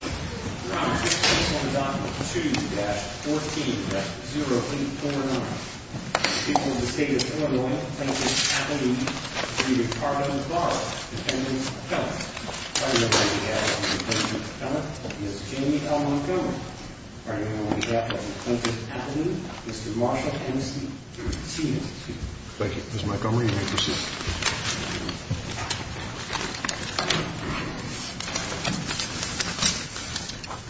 defense. Family. Hello,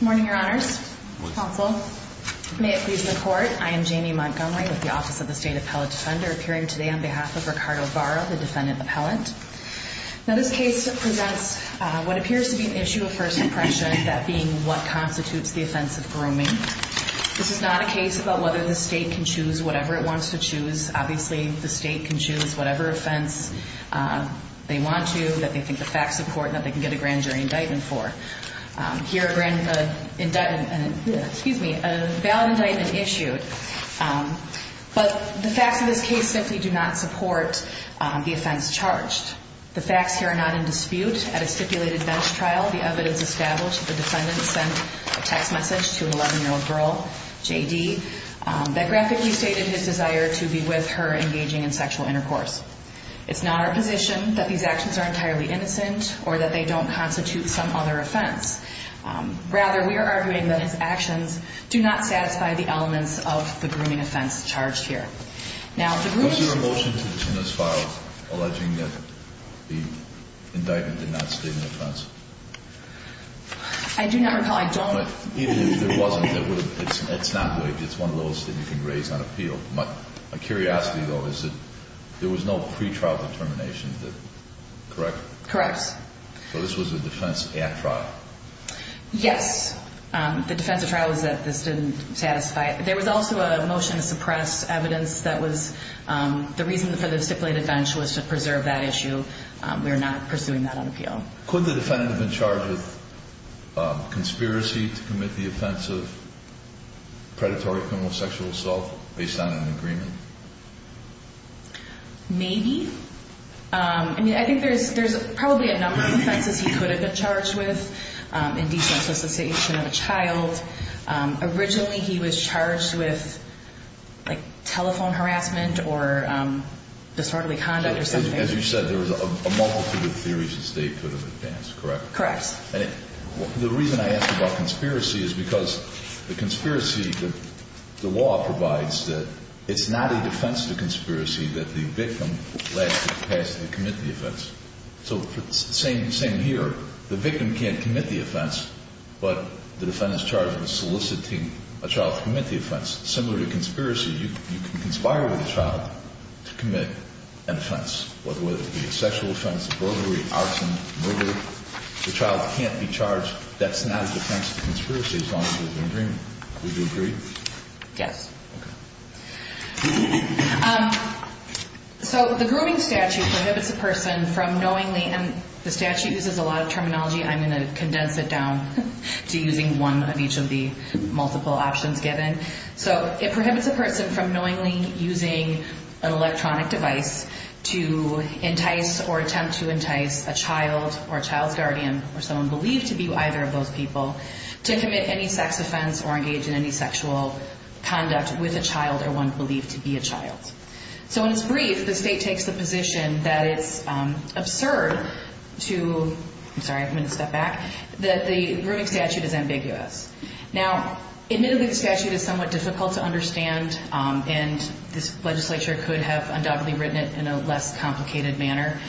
morning, your honors. May it please the court. I am Jamie Montgomery with the Office of the State Appellate Defender appearing today on behalf of Ricardo Barra, the defendant appellant. Now, this case presents what appears to be an issue of first impression, that being what constitutes the offense of grooming. This is not a case about whether the state can choose whatever it wants to choose. Obviously, the state can choose whatever offense they want to, that they can get a grand jury indictment for. Here, a grand jury indictment, excuse me, a valid indictment issued, but the facts of this case simply do not support the offense charged. The facts here are not in dispute. At a stipulated bench trial, the evidence established the defendant sent a text message to an 11-year-old girl, JD, that graphically stated his desire to be with her engaging in sexual intercourse. It's not our position that these actions are entirely innocent or that they don't constitute some other offense. Rather, we are arguing that his actions do not satisfy the elements of the grooming offense charged here. Now, the grooming... Was there a motion in this file alleging that the indictment did not state an offense? I do not recall. I don't... But even if there wasn't, it's not waived. It's one of those that you can raise on appeal. My curiosity, though, is that there was no pretrial determination, correct? Correct. So this was a defense at trial? Yes. The defense of trial was that this didn't satisfy it. There was also a motion to suppress evidence that was... The reason for the stipulated bench was to preserve that issue. We are not pursuing that on appeal. Could the defendant have been charged with conspiracy to commit the offense of predatory, criminal, sexual assault based on an agreement? Maybe. I mean, I think there's probably a number of offenses he could have been charged with in defenseless association of a child. Originally, he was charged with, like, telephone harassment or disorderly conduct or something. As you said, there was a multitude of theories the state could have advanced, correct? Correct. And the reason I asked about conspiracy is because the conspiracy, the law provides that it's not a defense to conspiracy that the victim has the capacity to commit the offense. So same here. The victim can't commit the offense, but the defendant is charged with soliciting a child to commit the offense. Similar to conspiracy, you can conspire with a child to commit an offense, whether it be a sexual offense, a burglary, arson, murder. The child can't be charged. That's not a defense to conspiracy based on an agreement. Would you agree? Yes. Okay. So the grooming statute prohibits a person from knowingly, and the statute uses a lot of terminology. I'm going to condense it down to using one of each of the multiple options given. So it prohibits a person from knowingly using an electronic device to entice or attempt to entice a child or a child's guardian or someone believed to be either of those people to commit any sex offense or engage in any sexual conduct with a child or one believed to be a child. So when it's brief, the state takes the position that it's absurd to, I'm sorry, I'm going to step back, that the grooming statute is ambiguous. Now, admittedly, the statute is somewhat difficult to understand, and this legislature could have undoubtedly written it in a less complicated manner,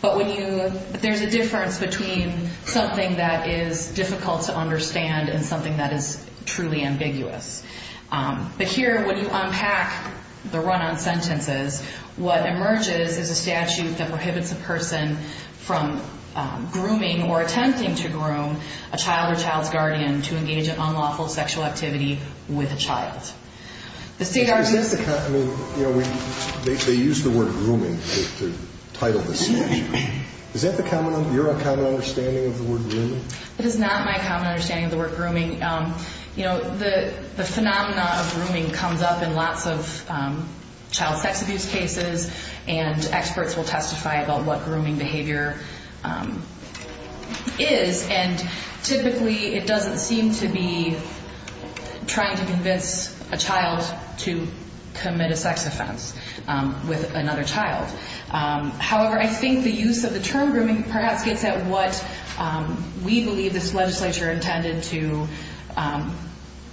but when you, there's a difference between something that is difficult to understand and something that is truly ambiguous. But here, when you unpack the run-on sentences, what emerges is a statute that prohibits a person from grooming or attempting to groom a child or child's guardian to engage in unlawful sexual activity with a child. The state argues... Is that the, I mean, you know, they use the word grooming to title this It is not my common understanding of the word grooming. You know, the phenomena of grooming comes up in lots of child sex abuse cases, and experts will testify about what grooming behavior is, and typically it doesn't seem to be trying to convince a child to commit a sex offense with another child. However, I think the use of the term grooming perhaps gets at what we believe this legislature intended to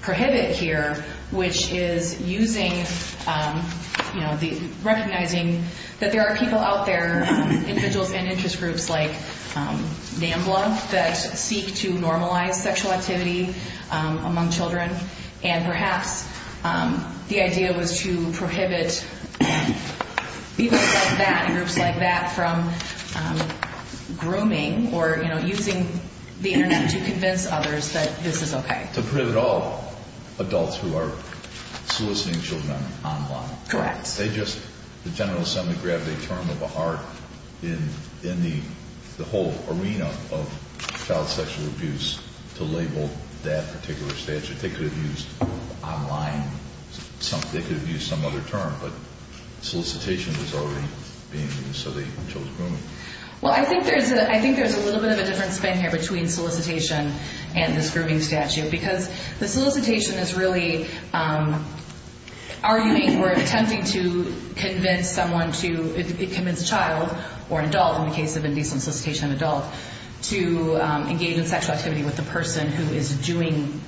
prohibit here, which is using, you know, recognizing that there are people out there, individuals and interest groups like NAMBLA, that seek to normalize sexual activity among children, and perhaps the idea was to prohibit people like that, groups like that, from grooming or, you know, using the internet to convince others that this is okay. To prohibit all adults who are soliciting children online. Correct. They just, the General Assembly grabbed a term of a heart in the whole arena of child sexual abuse to label that particular statute. They could have used online, they could have used some other term, but solicitation was already being used, so they chose grooming. Well, I think there's a little bit of a different spin here between solicitation and this grooming statute, because the solicitation is really arguing or attempting to convince someone to, to convince a child, or an adult in the case of indecent solicitation of an adult, to engage in sexual activity with the person who is doing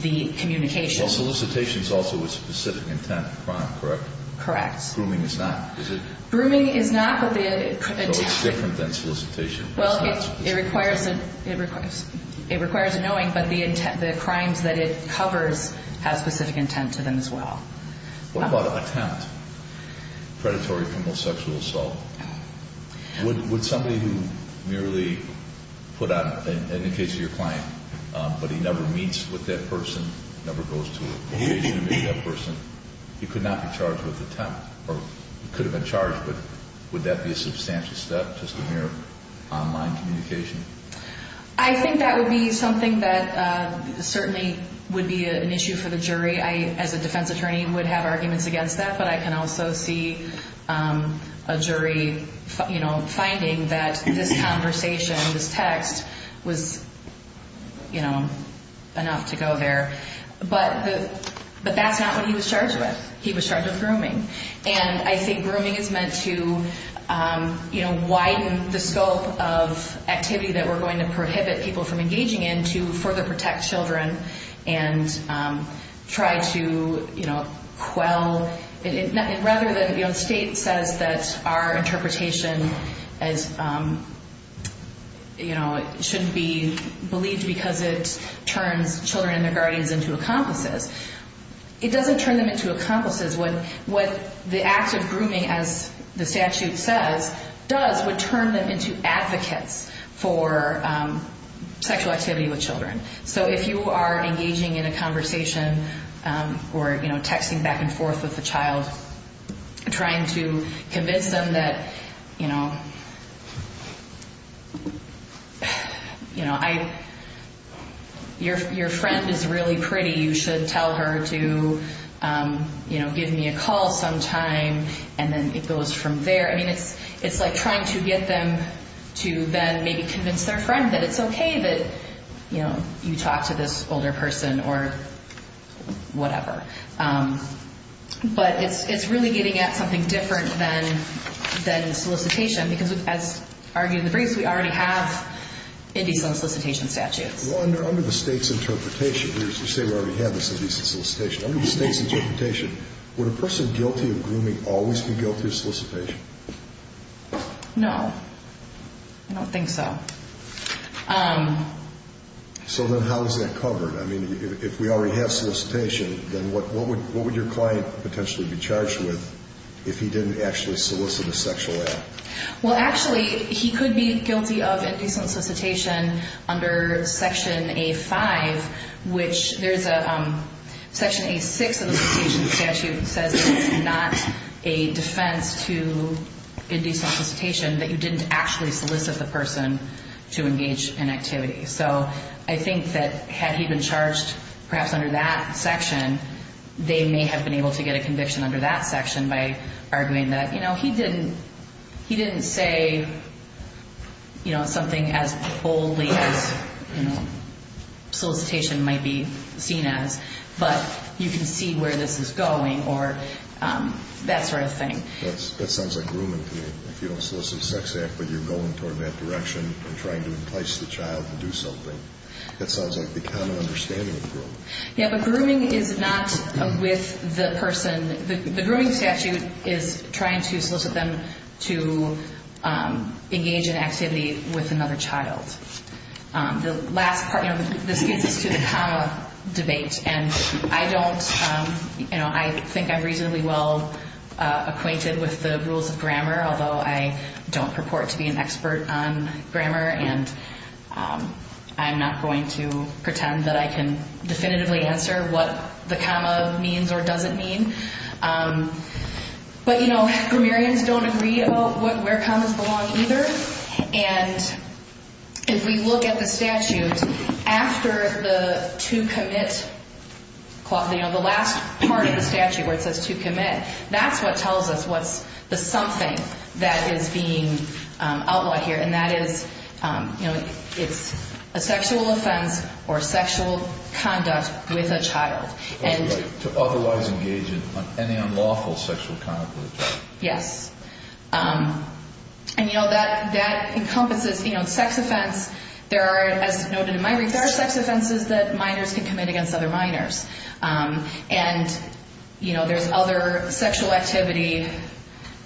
the communication. Well, solicitation is also with specific intent of crime, correct? Correct. Grooming is not, is it? Grooming is not, but the attempt... So it's different than solicitation. Well, it requires, it requires a knowing, but the intent, the crimes that it covers have specific intent to them as well. What about attempt? Predatory criminal sexual assault. Would somebody who merely put out, in the case of your client, but he never meets with that person, never goes to a location to meet that person, he could not be charged with attempt, or he could have been charged, but would that be a substantial step, just a mere online communication? I think that would be something that certainly would be an issue for the jury. I, as a defense attorney, would have arguments against that, but I can also see a jury, you know, finding that this conversation, this text, was, you know, enough to go there. But, but that's not what he was charged with. He was charged with grooming, and I think grooming is meant to, you know, widen the scope of activity that we're going to prohibit people from engaging in to further protect children, and try to, you know, quell, rather than, you know, the state says that our interpretation as, you know, it shouldn't be believed because it turns children and their guardians into accomplices. It doesn't turn them into accomplices. What, what the act of grooming, as the statute says, does would turn them into advocates for sexual activity with children. So if you are engaging in a conversation, or, you know, texting back and forth with the child, trying to convince them that, you know, you know, I, your, your friend is really pretty. You should tell her to, you know, give me a call sometime, and then it goes from there. I mean, it's, it's like trying to get them to then maybe convince their friend that it's okay that, you know, you talk to this older person, or whatever. But it's, it's really getting at something different than, than solicitation, because as argued in the briefs, we already have indecent solicitation statutes. Well, under, under the state's interpretation, here's, you say we already have this indecent solicitation. Under the state's interpretation, would a person guilty of grooming always be guilty of solicitation? No, I don't think so. So then how is that covered? I mean, if we already have solicitation, then what, what would, what would your client potentially be charged with if he didn't actually solicit a sexual act? Well, actually, he could be guilty of indecent solicitation under Section A5, which there's a Section A6 of the solicitation statute that says it's not a defense to indecent solicitation, that you didn't actually solicit the person to engage in activity. So I think that had he been charged, perhaps under that section, they may have been able to get a conviction under that section by arguing that, you know, he didn't, he didn't say, you know, something as boldly as, you know, solicitation might be seen as, but you can see where this is going or that sort of thing. That sounds like grooming to me. If you don't solicit a sex act, but you're going toward that direction and trying to entice the child to do something. That sounds like the common understanding of grooming. Yeah, but grooming is not with the person. The grooming statute is trying to solicit them to engage in activity with another child. The last part, you know, this gets us to the comma debate. And I don't, you know, I think I'm reasonably well acquainted with the rules of grammar, although I don't purport to be an expert on grammar. And I'm not going to pretend that I can definitively answer what the comma means or doesn't mean. But, you know, grammarians don't agree about where commas belong either. And if we look at the statute after the to commit clause, you know, the last part of the statute where it says to commit, that's what And that is, you know, it's a sexual offense or sexual conduct with a child. And to otherwise engage in any unlawful sexual conduct. Yes. And, you know, that that encompasses, you know, sex offense. There are, as noted in my research, sex offenses that minors can commit against other minors. And, you know, there's other sexual activity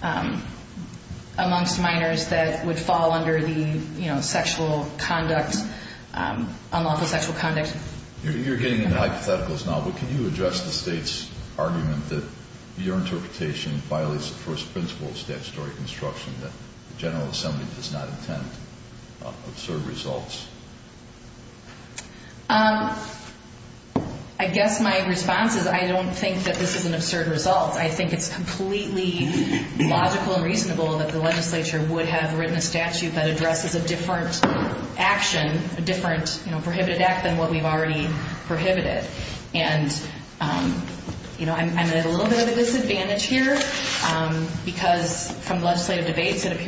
amongst minors that would fall under the, you know, sexual conduct, unlawful sexual conduct. You're getting into hypotheticals now, but can you address the state's argument that your interpretation violates the first principle of statutory construction, that the General Assembly does not intend to observe results? Um, I guess my response is I don't think that this is an absurd result. I think it's completely logical and reasonable that the legislature would have written a statute that addresses a different action, a different, you know, prohibited act than what we've already prohibited. And, you know, I'm at a little bit of a disadvantage here because from legislative debates, it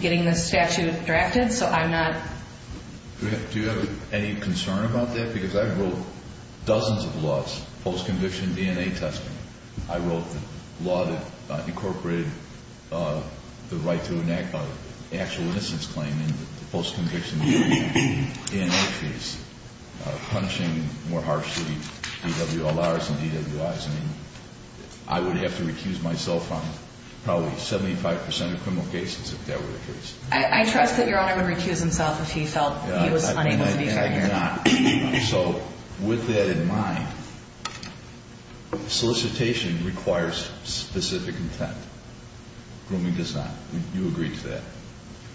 getting the statute directed. So I'm not. Do you have any concern about that? Because I wrote dozens of laws, post conviction, DNA testing. I wrote the law that incorporated the right to enact an actual innocence claim in the post conviction DNA case, punishing more harshly DWLRs and DWIs. I mean, I would have to recuse myself from probably 75% of criminal cases if that were the case. I trust that your owner would recuse himself if he felt he was unable to be heard. I dare not. So with that in mind, solicitation requires specific intent. Grooming does not. You agree to that?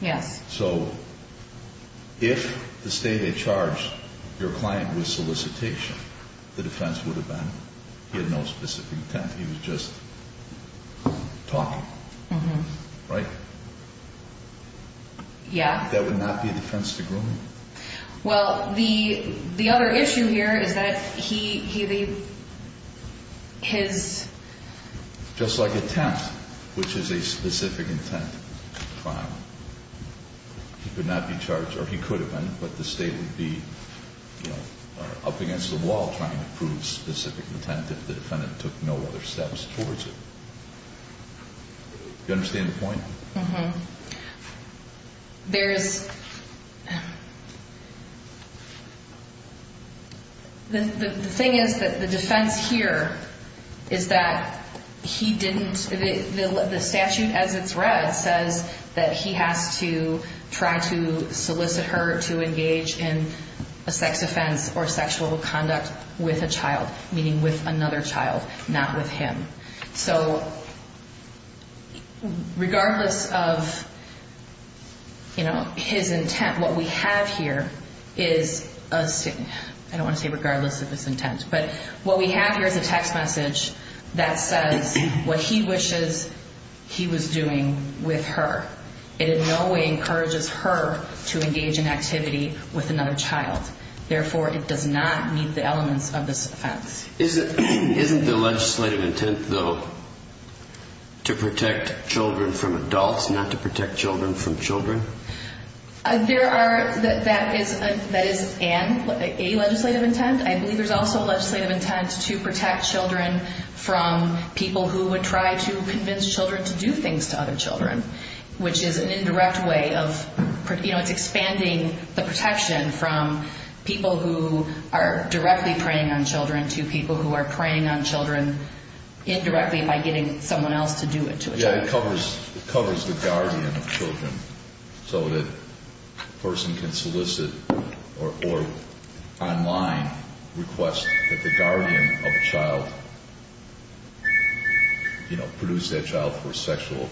Yes. So if the state had charged your client with solicitation, the defense would have been he had no specific intent. He was just talking. Right. Yeah, that would not be a defense to grooming. Well, the other issue here is that he, his just like attempt, which is a specific intent. He could not be charged or he could have been, but the state would be up against the wall trying to prove specific intent if the defendant took no other steps towards it. Do you understand the point? There's the thing is that the defense here is that he didn't, the statute as it's read, says that he has to try to solicit her to engage in a sex offense or so. Regardless of, you know, his intent, what we have here is, I don't want to say regardless of his intent, but what we have here is a text message that says what he wishes he was doing with her. It in no way encourages her to engage in activity with another child. Therefore, it does not meet the elements of this offense. Isn't the legislative intent, though, to protect children from adults, not to protect children from children? There are, that is an, a legislative intent. I believe there's also a legislative intent to protect children from people who would try to convince children to do things to other children, which is an indirect way of, you know, it's expanding the protection from people who are directly preying on children to people who are preying on children indirectly by getting someone else to do it to a child. Yeah, it covers, it covers the guardian of children so that a person can solicit or online request that the guardian of a child, you know, produce that child for a sexual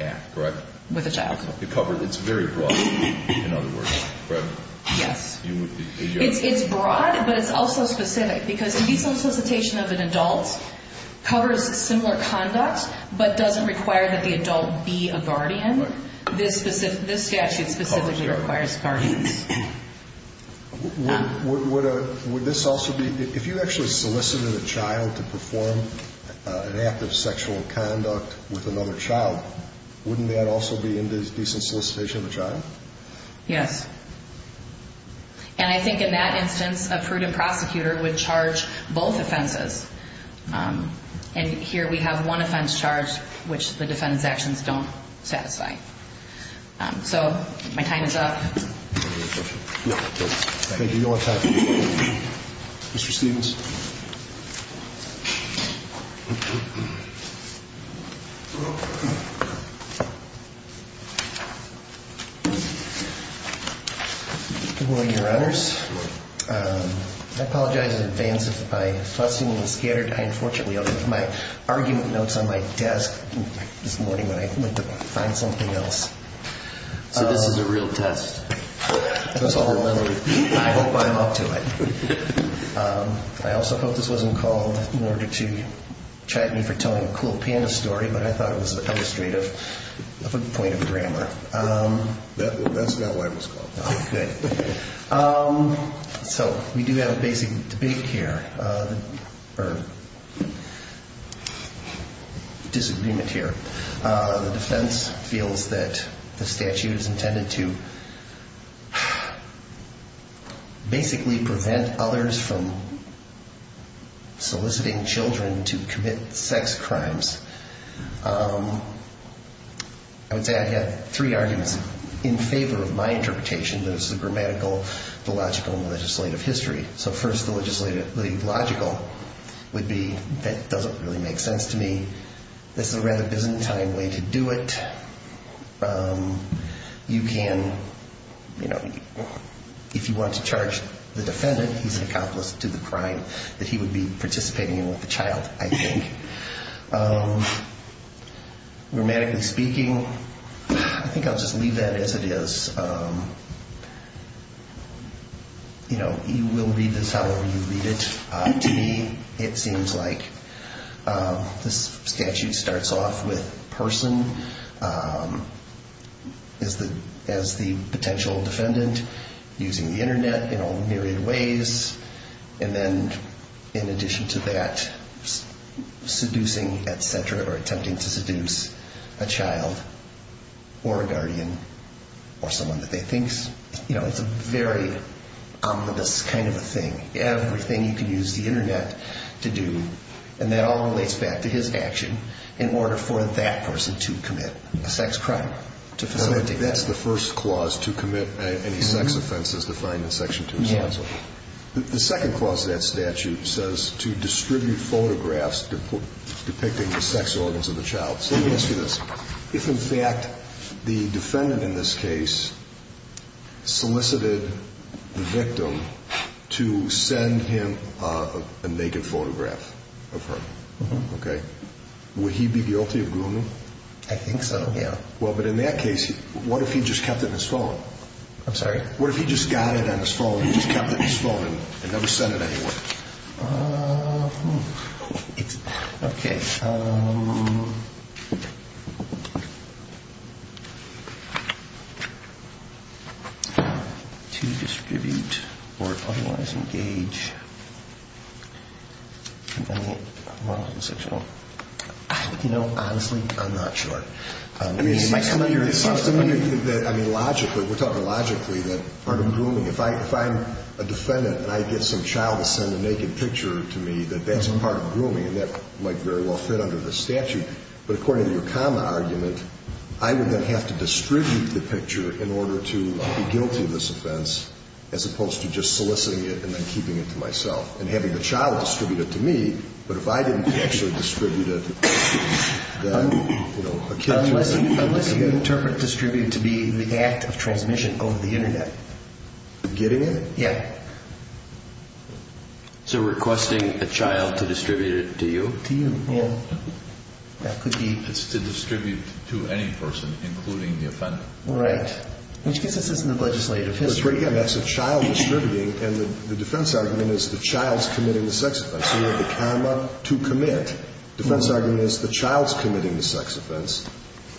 act, correct? With a child. It covered, it's very broad, in other words, correct? Yes, it's broad, but it's also specific because to be solicitation of an adult covers similar conduct, but doesn't require that the adult be a guardian. This specific, this statute specifically requires guardians. Would, would, would this also be, if you actually solicited a child to perform an act of sexual conduct with another child, wouldn't that also be in this case a solicitation of a child? Yes. And I think in that instance, a prudent prosecutor would charge both offenses. And here we have one offense charge, which the defendant's actions don't satisfy. So my time is up. Mr. Stevens. Good morning, Your Honors. I apologize in advance if my thoughts seem a little scattered. I unfortunately left my argument notes on my desk this morning when I went to find something else. So this is a real test. That's all the memory. I hope I'm up to it. I also hope this wasn't called in order to chat me for telling a cool panda story, but I thought it was illustrative of a point of grammar. That's not why it was called. Good. So we do have a basic debate here or disagreement here. The defense feels that the statute is intended to basically prevent others from soliciting children to commit sex crimes. I would say I had three arguments in favor of my interpretation. That is the grammatical, the logical, and the legislative history. So first, the legislative, the logical would be that doesn't really make sense to me. This is a rather Byzantine way to do it. You can, you know, if you want to charge the defendant, he's an accomplice to the crime, that he would be participating in with the child, I think. Um, grammatically speaking, I think I'll just leave that as it is. Um, you know, you will read this however you read it. Uh, to me, it seems like, um, this statute starts off with person, um, as the, as the potential defendant using the internet in all myriad ways. And then in addition to that, seducing, et cetera, or attempting to seduce a child or a guardian or someone that they think, you know, it's a very ominous kind of a thing, everything you can use the internet to do, and that all relates back to his action in order for that person to commit a sex crime, to facilitate that. That's the first clause to commit any sex offenses defined in section two. The second clause of that statute says to distribute photographs depicting the sex organs of the child. So let me ask you this. If in fact, the defendant in this case solicited the victim to send him a naked photograph of her, okay. Would he be guilty of grooming? I think so. Yeah. Well, but in that case, what if he just kept it in his phone? I'm sorry. What if he just got it on his phone? He just kept it in his phone and never sent it anywhere? Um, okay. Um, to distribute or otherwise engage, I mean, you know, honestly, I'm not sure. I mean, logically, we're talking logically that if I, if I a defendant and I get some child to send a naked picture to me, that that's a part of grooming and that might very well fit under the statute. But according to your common argument, I would then have to distribute the picture in order to be guilty of this offense, as opposed to just soliciting it and then keeping it to myself and having the child distribute it to me. But if I didn't actually distribute it, then, you know, a kid. Unless you interpret distribute to be the act of transmission over the internet. Getting it. Yeah. So requesting a child to distribute it to you, to you. Yeah. That could be to distribute to any person, including the offender. Right. Which gives us this in the legislative history. Again, that's a child distributing. And the defense argument is the child's committing the sex offense. So you have the comma to commit defense argument is the child's committing the sex offense,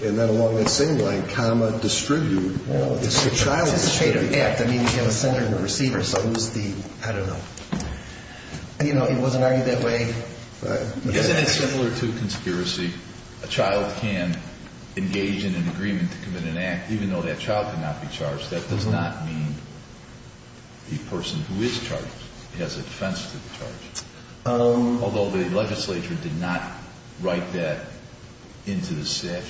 and then along that same line, comma distribute the child. I mean, you have a sender and a receiver. So it was the, I don't know, you know, it wasn't argued that way. Isn't it similar to conspiracy? A child can engage in an agreement to commit an act, even though that child could not be charged. That does not mean the person who is charged has a defense to the charge. Um, although the legislature did not write that into the statute.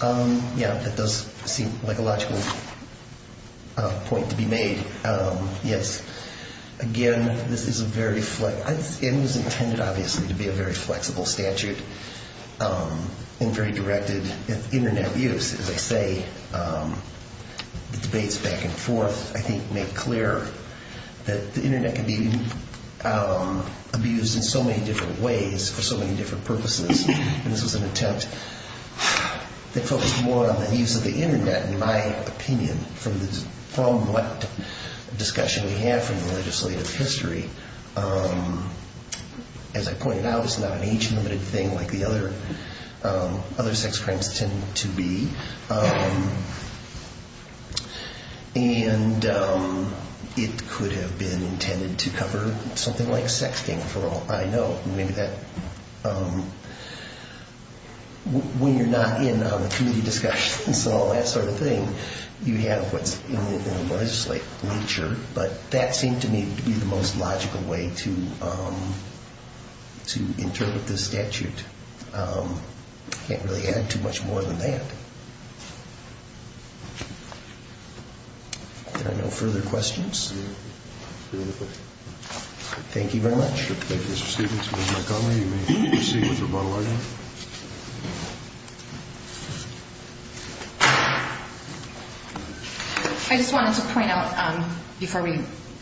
Um, yeah, that does seem like a logical point to be made. Um, yes. Again, this is a very flexible, it was intended, obviously, to be a very flexible statute, um, and very directed internet use, as I say, um, the debates back and forth, I think make clear that the internet can be, um, abused in so many different ways for so many different purposes. And this was an attempt that focused more on the use of the internet, in my opinion, from this, from what discussion we have from the legislative history, um, as I pointed out, it's not an age limited thing like the other, um, other sex crimes tend to be. Um, and, um, it could have been intended to cover something like sexting for all. I know maybe that, um, when you're not in a committee discussion and so on, that sort of thing, you have what's in the legislature, but that seemed to me to be the most logical way to, um, to interpret this statute. Um, I can't really add too much more than that. Are there no further questions? Thank you very much. Ms. McConnell, you may proceed with your model item. I just wanted to point out, um, before we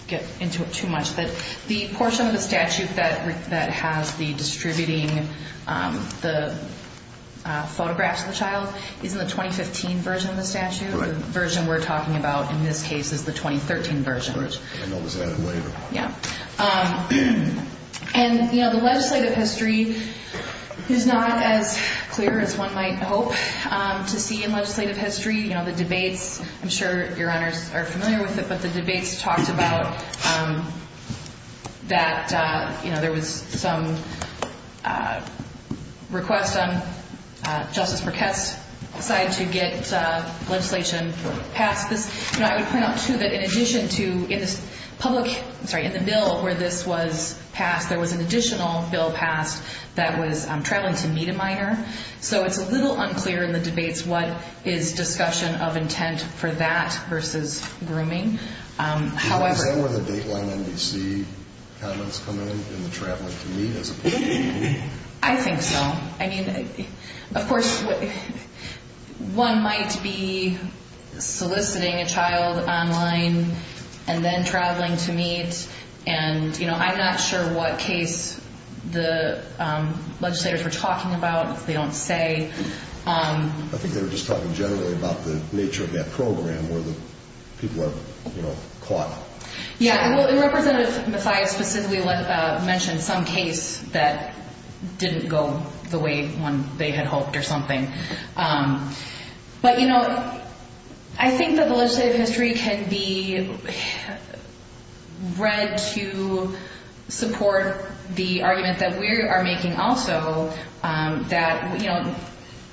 get into it too much, that the portion of the statute that, that has the distributing, um, the, uh, photographs of the child is in the 2015 version of the statute, the version we're talking about in this case is the 2013 version. Yeah. Um, and you know, the legislative history is not as clear as one might hope, um, to see in legislative history. You know, the debates, I'm sure your honors are familiar with it, but the debates talked about, um, that, uh, you know, there was some, uh, request on, uh, Justice Burkett's side to get, uh, legislation passed this, you know, I would point out too, that in addition to in this public, I'm sorry, in the bill where this was passed, there was an additional bill passed that was, um, traveling to meet a minor. So it's a little unclear in the debates, what is discussion of intent for that versus grooming? Um, however... Is that where the Dateline NBC comments come in, in the traveling to meet as opposed to the meeting? I think so. I mean, of course, one might be soliciting a child online and then traveling to meet and, you know, I'm not sure what case the, um, legislators were talking about, they don't say. Um, I think they were just talking generally about the nature of that program where the people are, you know, caught. Yeah. And Representative Mathias specifically mentioned some case that didn't go the way they had hoped or something. Um, but you know, I think that the legislative history can be read to support the argument that we are making also, um, that, you know,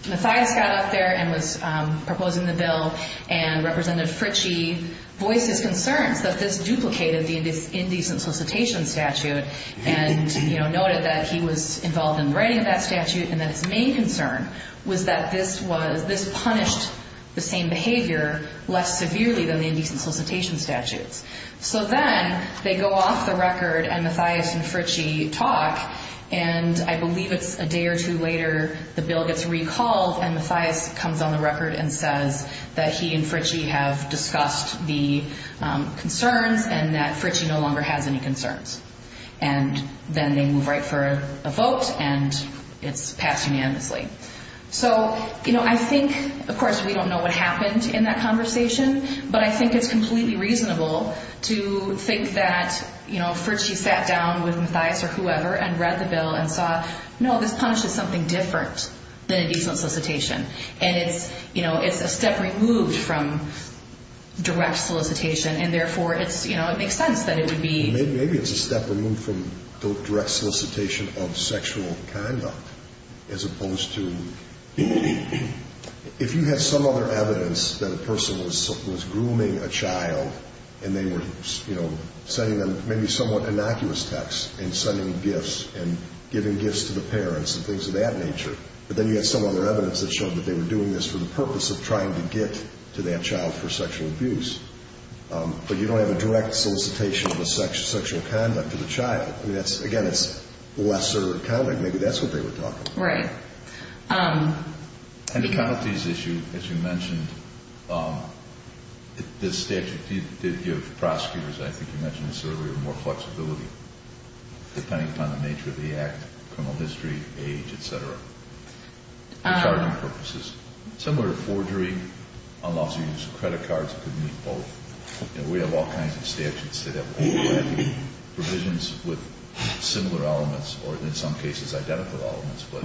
Mathias got out there and was, um, proposing the bill and Representative Fritchie voiced his concerns that this duplicated the indecent solicitation statute. And, you know, noted that he was involved in writing that statute. And that his main concern was that this was, this punished the same behavior less severely than the indecent solicitation statutes. So then they go off the record and Mathias and Fritchie talk, and I believe it's a day or two later, the bill gets recalled and Mathias comes on the record and says that he and Fritchie have discussed the, um, concerns and that Fritchie no longer has any concerns. And then they move right for a vote and it's passed unanimously. So, you know, I think, of course, we don't know what happened in that conversation, but I think it's completely reasonable to think that, you know, Fritchie sat down with Mathias or whoever and read the bill and saw, no, this punishes something different than indecent solicitation. And it's, you know, it's a step removed from direct solicitation. And therefore it's, you know, it makes sense that it would be... direct solicitation of sexual conduct, as opposed to, if you have some other evidence that a person was grooming a child and they were, you know, sending them maybe somewhat innocuous texts and sending gifts and giving gifts to the parents and things of that nature, but then you have some other evidence that showed that they were doing this for the purpose of trying to get to that child for sexual abuse, but you don't have a direct solicitation of a sexual conduct to the child. I mean, that's, again, it's lesser accounting. Maybe that's what they were talking about. Right. And the penalties issue, as you mentioned, the statute did give prosecutors, I think you mentioned this earlier, more flexibility, depending upon the nature of the act, criminal history, age, et cetera, for charging purposes, similar to forgery, unlawful use of credit cards, it could mean both. We have all kinds of statutes that have provisions with similar elements, or in some cases, identical elements, but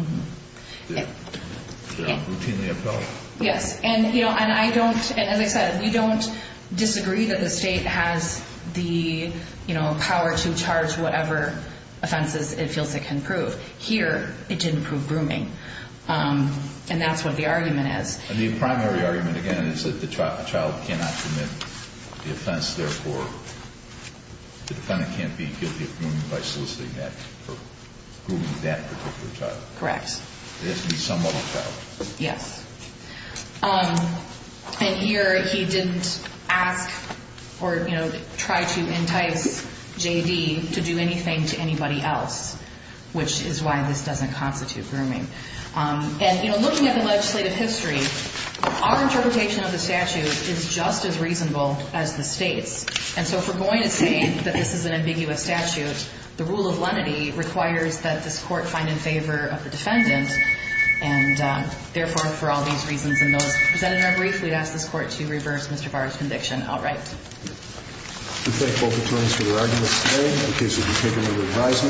they're routinely appelled. Yes. And, you know, and I don't, and as I said, we don't disagree that the state has the power to charge whatever offenses it feels it can prove. Here, it didn't prove grooming. And that's what the argument is. And the primary argument, again, is that the child cannot commit the offense. Therefore, the defendant can't be guilty of grooming by soliciting that, or grooming that particular child. Correct. It has to be some other child. Yes. And here, he didn't ask or, you know, try to entice JD to do anything to anybody else, which is why this doesn't constitute grooming. And, you know, looking at the legislative history, our interpretation of the statute is just as reasonable as the state's. And so if we're going to say that this is an ambiguous statute, the rule of lenity requires that this court find in favor of the defendant, and therefore, for all these reasons and those presented in our brief, we'd ask this court to reverse Mr. Barr's conviction outright. We thank both attorneys for their arguments today. In case you'd be taking a revision, we'll recess to the next case. Thank you.